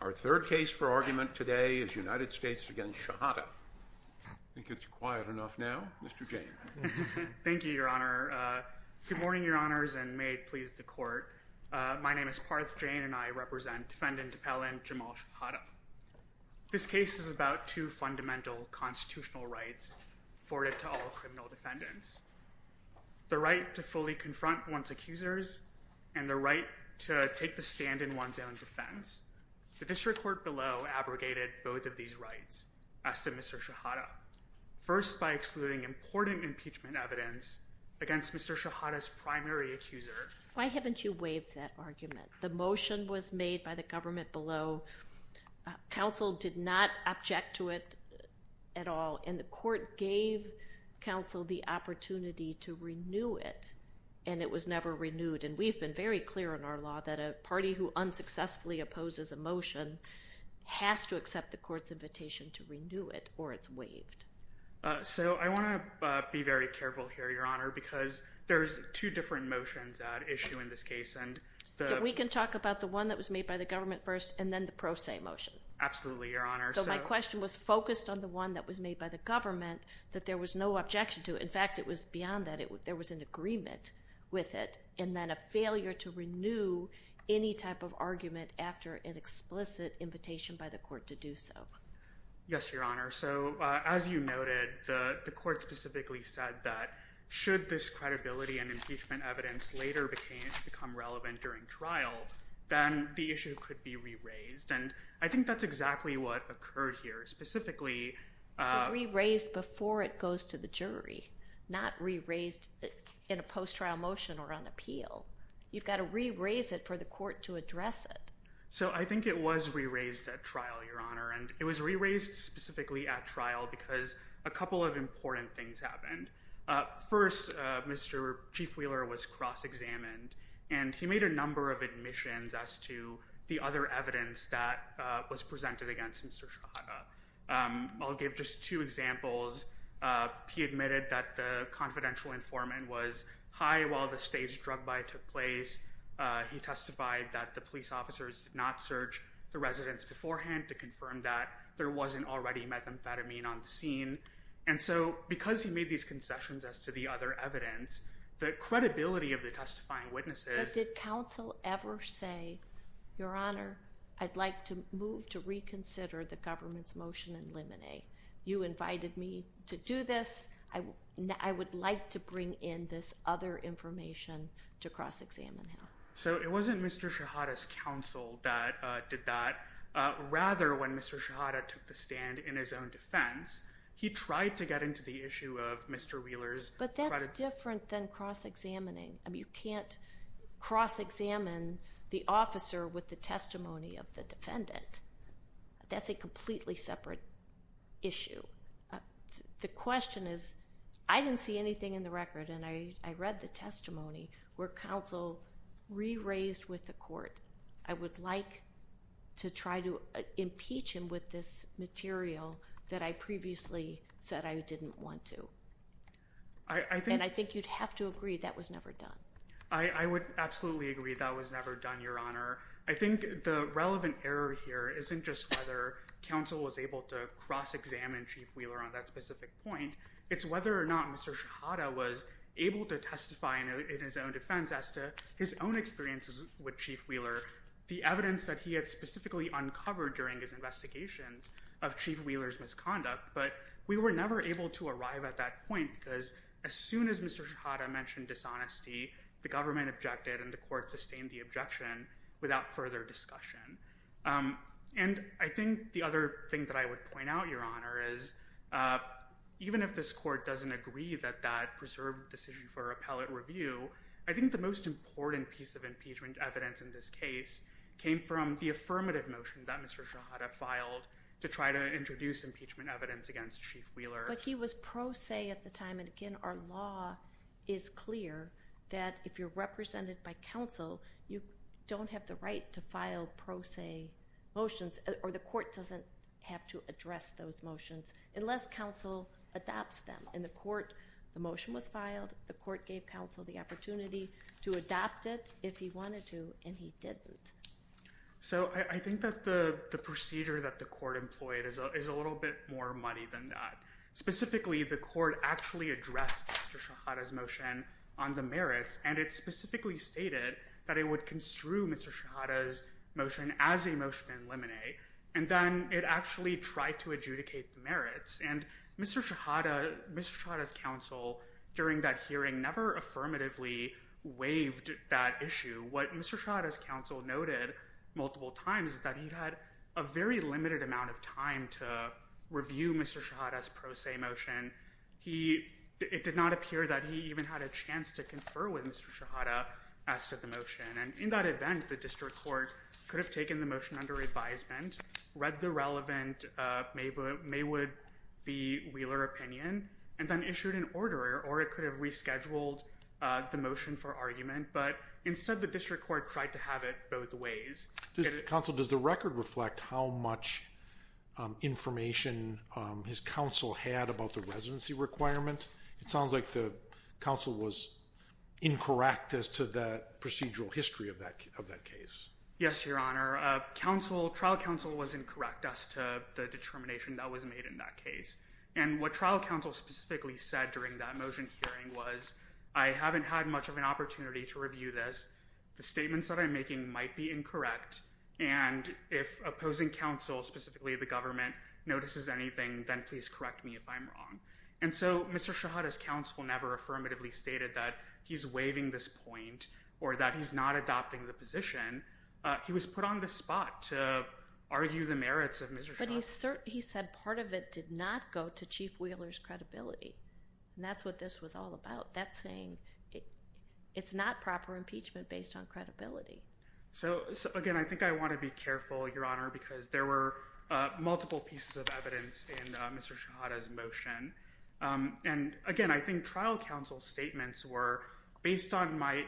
Our third case for argument today is United States v. Shehadeh. I think it's quiet enough now. Mr. Jayne. Thank you, Your Honor. Good morning, Your Honors, and may it please the Court. My name is Parth Jayne, and I represent Defendant Appellant Jamal Shehadeh. This case is about two fundamental constitutional rights afforded to all criminal defendants. The right to fully confront one's accusers and the right to take the stand in one's own defense. The district court below abrogated both of these rights as to Mr. Shehadeh, first by excluding important impeachment evidence against Mr. Shehadeh's primary accuser. Why haven't you waived that argument? The motion was made by the government below. Counsel did not object to it at all, and the court gave counsel the opportunity to renew it, and it was never renewed. And we've been very clear in our law that a party who unsuccessfully opposes a motion has to accept the court's invitation to renew it or it's waived. So I want to be very careful here, Your Honor, because there's two different motions at issue in this case. We can talk about the one that was made by the government first and then the pro se motion. Absolutely, Your Honor. So my question was focused on the one that was made by the government that there was no objection to. In fact, it was beyond that. There was an agreement with it and then a failure to renew any type of argument after an explicit invitation by the court to do so. Yes, Your Honor. So as you noted, the court specifically said that should this credibility and impeachment evidence later become relevant during trial, then the issue could be re-raised, and I think that's exactly what occurred here, specifically. Re-raised before it goes to the jury, not re-raised in a post-trial motion or on appeal. You've got to re-raise it for the court to address it. So I think it was re-raised at trial, Your Honor, and it was re-raised specifically at trial because a couple of important things happened. First, Mr. Chief Wheeler was cross-examined, and he made a number of admissions as to the other evidence that was presented against Mr. Shahada. I'll give just two examples. He admitted that the confidential informant was high while the staged drug buy took place. He testified that the police officers did not search the residence beforehand to confirm that there wasn't already methamphetamine on the scene. And so because he made these concessions as to the other evidence, the credibility of the testifying witnesses— But did counsel ever say, Your Honor, I'd like to move to reconsider the government's motion in Limine? You invited me to do this. I would like to bring in this other information to cross-examine him. So it wasn't Mr. Shahada's counsel that did that. Rather, when Mr. Shahada took the stand in his own defense, he tried to get into the issue of Mr. Wheeler's— But that's different than cross-examining. You can't cross-examine the officer with the testimony of the defendant. That's a completely separate issue. The question is, I didn't see anything in the record, and I read the testimony, where counsel re-raised with the court, I would like to try to impeach him with this material that I previously said I didn't want to. And I think you'd have to agree that was never done. I would absolutely agree that was never done, Your Honor. I think the relevant error here isn't just whether counsel was able to cross-examine Chief Wheeler on that specific point. It's whether or not Mr. Shahada was able to testify in his own defense as to his own experiences with Chief Wheeler, the evidence that he had specifically uncovered during his investigations of Chief Wheeler's misconduct. But we were never able to arrive at that point because as soon as Mr. Shahada mentioned dishonesty, the government objected and the court sustained the objection without further discussion. And I think the other thing that I would point out, Your Honor, is even if this court doesn't agree that that preserved decision for appellate review, I think the most important piece of impeachment evidence in this case came from the affirmative motion that Mr. Shahada filed to try to introduce impeachment evidence against Chief Wheeler. But he was pro se at the time, and again, our law is clear that if you're represented by counsel, you don't have the right to file pro se motions or the court doesn't have to address those motions unless counsel adopts them. And the motion was filed. The court gave counsel the opportunity to adopt it if he wanted to, and he didn't. So I think that the procedure that the court employed is a little bit more muddy than that. Specifically, the court actually addressed Mr. Shahada's motion on the merits, and it specifically stated that it would construe Mr. Shahada's motion as a motion to eliminate, and then it actually tried to adjudicate the merits. And Mr. Shahada's counsel during that hearing never affirmatively waived that issue. What Mr. Shahada's counsel noted multiple times is that he had a very limited amount of time to review Mr. Shahada's pro se motion. It did not appear that he even had a chance to confer with Mr. Shahada as to the motion. And in that event, the district court could have taken the motion under advisement, read the relevant Maywood v. Wheeler opinion, and then issued an order, or it could have rescheduled the motion for argument. But instead, the district court tried to have it both ways. Counsel, does the record reflect how much information his counsel had about the residency requirement? It sounds like the counsel was incorrect as to the procedural history of that case. Yes, Your Honor. Trial counsel was incorrect as to the determination that was made in that case. And what trial counsel specifically said during that motion hearing was, I haven't had much of an opportunity to review this. The statements that I'm making might be incorrect. And if opposing counsel, specifically the government, notices anything, then please correct me if I'm wrong. And so Mr. Shahada's counsel never affirmatively stated that he's waiving this point or that he's not adopting the position. He was put on the spot to argue the merits of Mr. Shahada. But he said part of it did not go to Chief Wheeler's credibility. And that's what this was all about. That's saying it's not proper impeachment based on credibility. So, again, I think I want to be careful, Your Honor, because there were multiple pieces of evidence in Mr. Shahada's motion. And, again, I think trial counsel's statements were based on my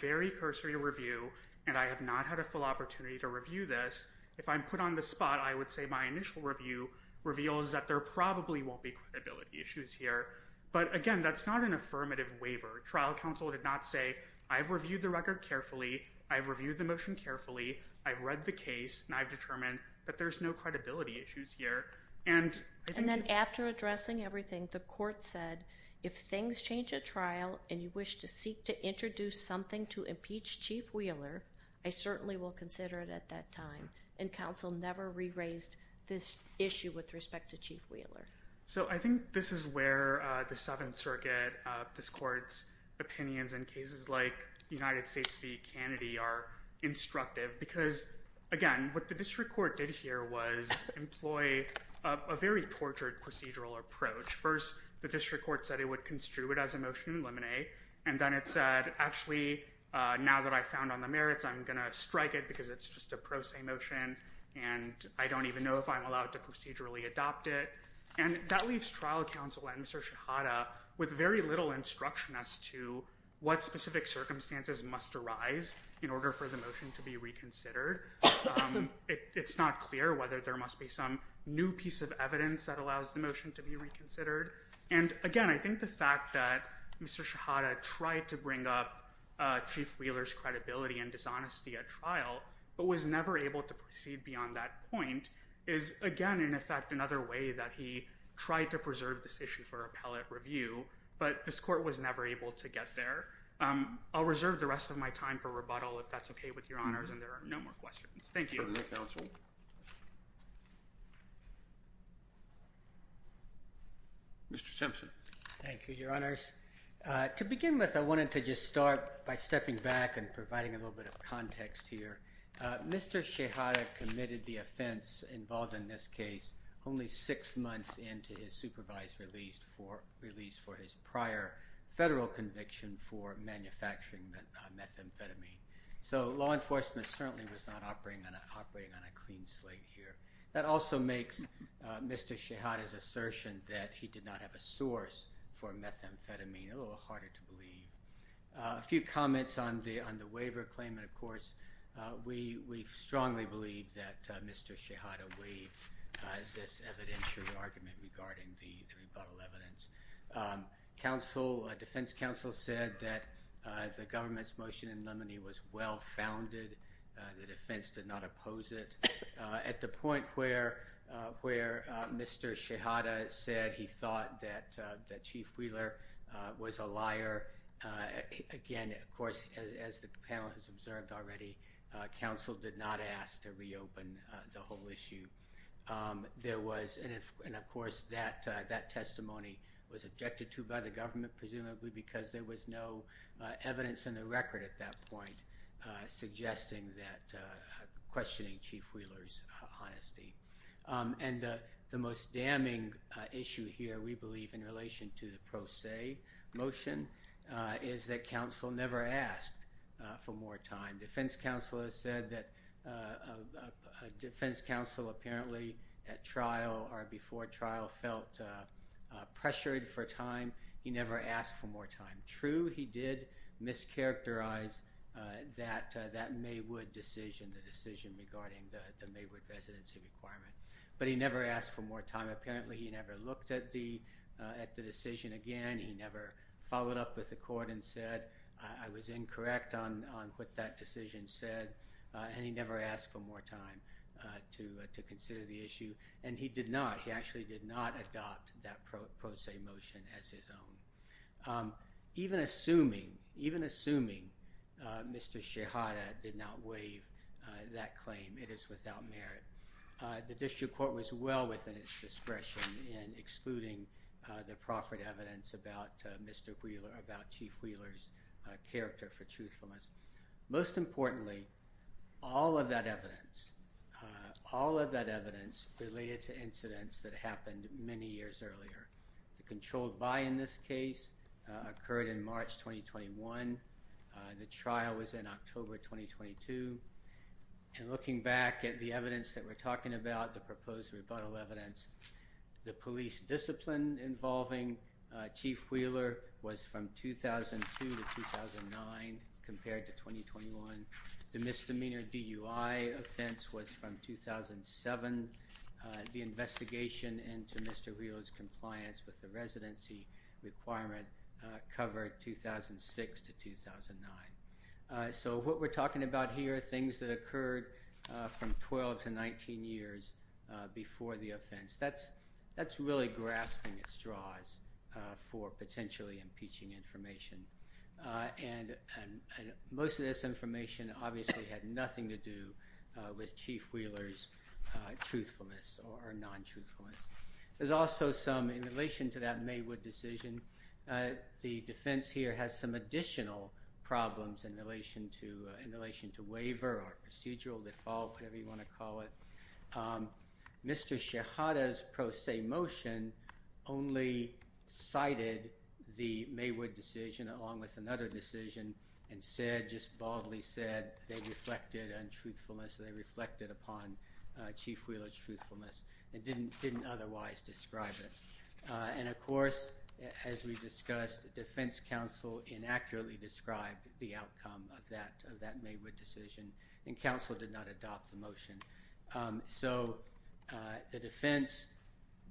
very cursory review, and I have not had a full opportunity to review this. If I'm put on the spot, I would say my initial review reveals that there probably won't be credibility issues here. But, again, that's not an affirmative waiver. Trial counsel did not say, I've reviewed the record carefully, I've reviewed the motion carefully, I've read the case, and I've determined that there's no credibility issues here. And then after addressing everything, the court said, if things change at trial and you wish to seek to introduce something to impeach Chief Wheeler, I certainly will consider it at that time. And counsel never re-raised this issue with respect to Chief Wheeler. So I think this is where the Seventh Circuit, this court's opinions in cases like United States v. Kennedy are instructive. Because, again, what the district court did here was employ a very tortured procedural approach. First, the district court said it would construe it as a motion to eliminate, and then it said, actually, now that I've found on the merits, I'm going to strike it because it's just a pro se motion, and I don't even know if I'm allowed to procedurally adopt it. And that leaves trial counsel and Mr. Shahada with very little instruction as to what specific circumstances must arise in order for the motion to be reconsidered. It's not clear whether there must be some new piece of evidence that allows the motion to be reconsidered. And, again, I think the fact that Mr. Shahada tried to bring up Chief Wheeler's credibility and dishonesty at trial, but was never able to proceed beyond that point, is, again, in effect, another way that he tried to preserve this issue for appellate review. But this court was never able to get there. I'll reserve the rest of my time for rebuttal, if that's OK with Your Honors, and there are no more questions. Thank you. Mr. Simpson. Thank you, Your Honors. To begin with, I wanted to just start by stepping back and providing a little bit of context here. Mr. Shahada committed the offense involved in this case only six months into his supervised release for his prior federal conviction for manufacturing methamphetamine. So law enforcement certainly was not operating on a clean slate here. That also makes Mr. Shahada's assertion that he did not have a source for methamphetamine a little harder to believe. A few comments on the waiver claim, and, of course, we strongly believe that Mr. Shahada waived this evidentiary argument regarding the rebuttal evidence. Defense counsel said that the government's motion in Lumminy was well-founded. The defense did not oppose it. At the point where Mr. Shahada said he thought that Chief Wheeler was a liar, again, of course, as the panel has observed already, counsel did not ask to reopen the whole issue. And, of course, that testimony was objected to by the government, presumably because there was no evidence in the record at that point suggesting that questioning Chief Wheeler's honesty. And the most damning issue here, we believe, in relation to the pro se motion is that counsel never asked for more time. Defense counsel has said that defense counsel apparently at trial or before trial felt pressured for time. He never asked for more time. True, he did mischaracterize that Maywood decision, the decision regarding the Maywood residency requirement, but he never asked for more time. Apparently, he never looked at the decision again. He never followed up with the court and said, I was incorrect on what that decision said, and he never asked for more time to consider the issue. And he did not. He actually did not adopt that pro se motion as his own, even assuming Mr. Shahada did not waive that claim. It is without merit. The district court was well within its discretion in excluding the proffered evidence about Mr. Wheeler, about Chief Wheeler's character for truthfulness. Most importantly, all of that evidence, all of that evidence related to incidents that happened many years earlier. The controlled buy in this case occurred in March 2021. The trial was in October 2022. And looking back at the evidence that we're talking about, the proposed rebuttal evidence, the police discipline involving Chief Wheeler was from 2002 to 2009 compared to 2021. The misdemeanor DUI offense was from 2007. The investigation into Mr. Wheeler's compliance with the residency requirement covered 2006 to 2009. So what we're talking about here are things that occurred from 12 to 19 years before the offense. That's really grasping at straws for potentially impeaching information. And most of this information obviously had nothing to do with Chief Wheeler's truthfulness or non-truthfulness. There's also some in relation to that Maywood decision. The defense here has some additional problems in relation to in relation to waiver or procedural default, whatever you want to call it. Mr. Shahada's pro se motion only cited the Maywood decision along with another decision and said, just baldly said, they reflected untruthfulness. They reflected upon Chief Wheeler's truthfulness and didn't otherwise describe it. And of course, as we discussed, the defense counsel inaccurately described the outcome of that Maywood decision and counsel did not adopt the motion. So the defense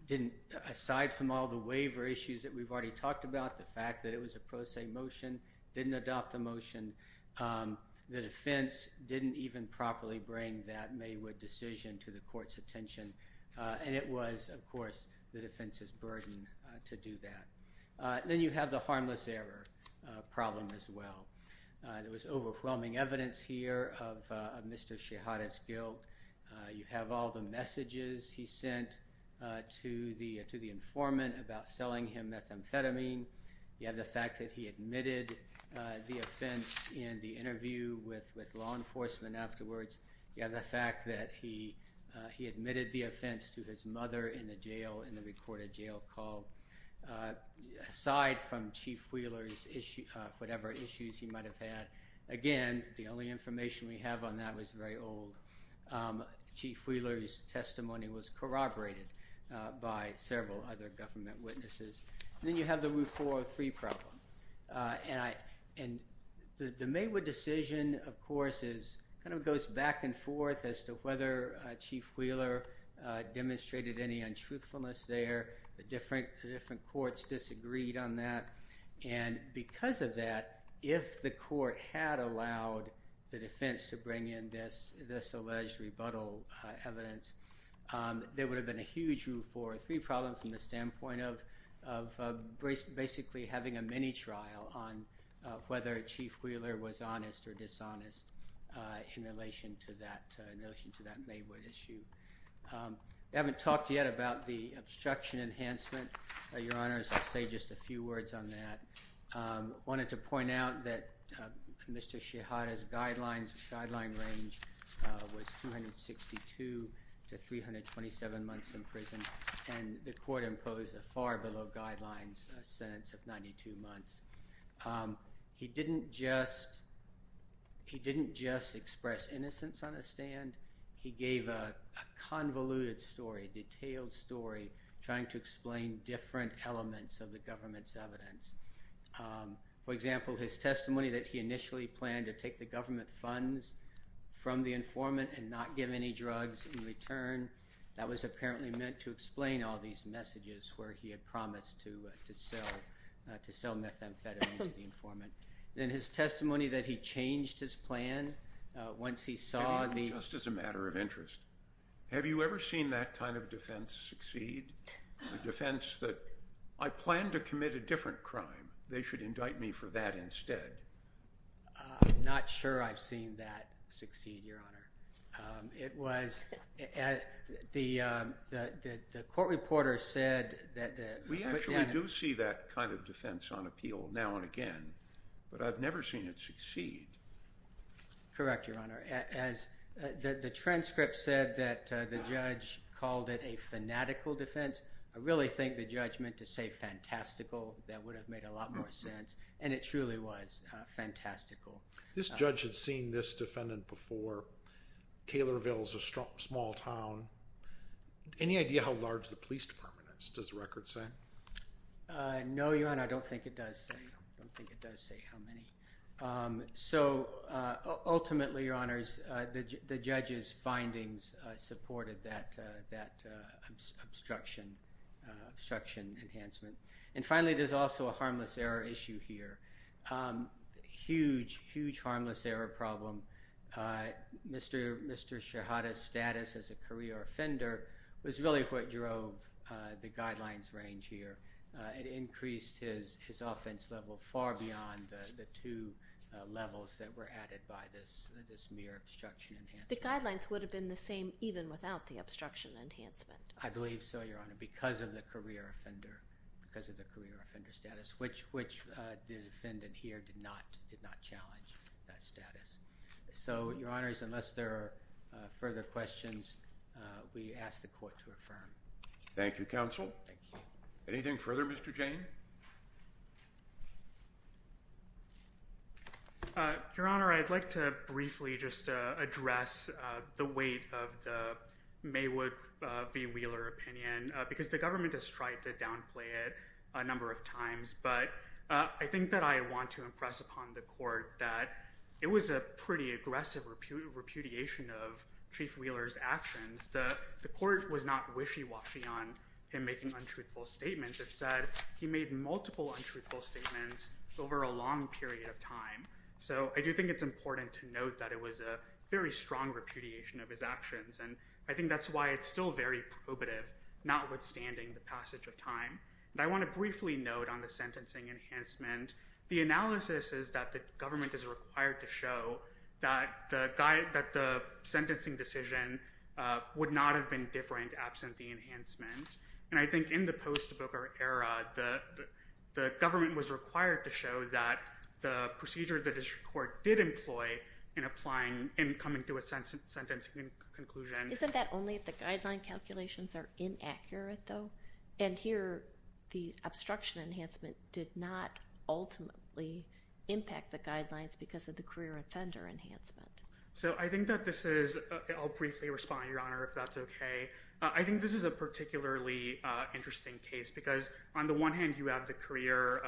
didn't, aside from all the waiver issues that we've already talked about, the fact that it was a pro se motion, didn't adopt the motion. The defense didn't even properly bring that Maywood decision to the court's attention. And it was, of course, the defense's burden to do that. Then you have the harmless error problem as well. There was overwhelming evidence here of Mr. Shahada's guilt. You have all the messages he sent to the informant about selling him methamphetamine. You have the fact that he admitted the offense in the interview with law enforcement afterwards. You have the fact that he admitted the offense to his mother in the jail in the recorded jail call. Aside from Chief Wheeler's whatever issues he might have had, again, the only information we have on that was very old. Chief Wheeler's testimony was corroborated by several other government witnesses. Then you have the 403 problem. And the Maywood decision, of course, kind of goes back and forth as to whether Chief Wheeler demonstrated any untruthfulness there. The different courts disagreed on that. And because of that, if the court had allowed the defense to bring in this alleged rebuttal evidence, there would have been a huge 403 problem from the standpoint of basically having a mini-trial on whether Chief Wheeler was honest or dishonest in relation to that Maywood issue. We haven't talked yet about the obstruction enhancement. Your Honors, I'll say just a few words on that. I wanted to point out that Mr. Shihada's guideline range was 262 to 327 months in prison. And the court imposed a far below guidelines sentence of 92 months. He didn't just express innocence on the stand. He gave a convoluted story, a detailed story, trying to explain different elements of the government's evidence. For example, his testimony that he initially planned to take the government funds from the informant and not give any drugs in return, that was apparently meant to explain all these messages where he had promised to sell methamphetamine to the informant. Then his testimony that he changed his plan once he saw the— Just as a matter of interest, have you ever seen that kind of defense succeed? A defense that, I plan to commit a different crime. They should indict me for that instead. I'm not sure I've seen that succeed, Your Honor. It was—the court reporter said that— We actually do see that kind of defense on appeal now and again, but I've never seen it succeed. Correct, Your Honor. As the transcript said that the judge called it a fanatical defense, I really think the judge meant to say fantastical. That would have made a lot more sense, and it truly was fantastical. This judge had seen this defendant before. Taylorville is a small town. Any idea how large the police department is? Does the record say? No, Your Honor, I don't think it does say. I don't think it does say how many. Ultimately, Your Honors, the judge's findings supported that obstruction enhancement. Finally, there's also a harmless error issue here. Huge, huge harmless error problem. Mr. Shahada's status as a career offender was really what drove the guidelines range here. It increased his offense level far beyond the two levels that were added by this mere obstruction enhancement. The guidelines would have been the same even without the obstruction enhancement. I believe so, Your Honor, because of the career offender status, which the defendant here did not challenge that status. So, Your Honors, unless there are further questions, we ask the court to affirm. Thank you, counsel. Thank you. Anything further, Mr. Jane? Your Honor, I'd like to briefly just address the weight of the Maywood v. Wheeler opinion, because the government has tried to downplay it a number of times, but I think that I want to impress upon the court that it was a pretty aggressive repudiation of Chief Wheeler's actions. The court was not wishy-washy on him making untruthful statements. It said he made multiple untruthful statements over a long period of time. So I do think it's important to note that it was a very strong repudiation of his actions, and I think that's why it's still very probative, notwithstanding the passage of time. And I want to briefly note on the sentencing enhancement, the analysis is that the government is required to show that the sentencing decision would not have been different absent the enhancement. And I think in the post-Booker era, the government was required to show that the procedure the district court did employ in coming to a sentencing conclusion. Isn't that only if the guideline calculations are inaccurate, though? And here, the obstruction enhancement did not ultimately impact the guidelines because of the career offender enhancement. So I think that this is – I'll briefly respond, Your Honor, if that's okay. I think this is a particularly interesting case, because on the one hand, you have the career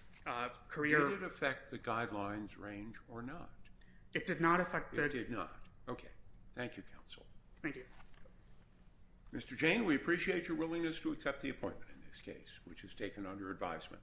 – Did it affect the guidelines range or not? It did not affect the – It did not. Okay. Thank you, Counsel. Thank you. Mr. Jane, we appreciate your willingness to accept the appointment in this case, which is taken under advisement.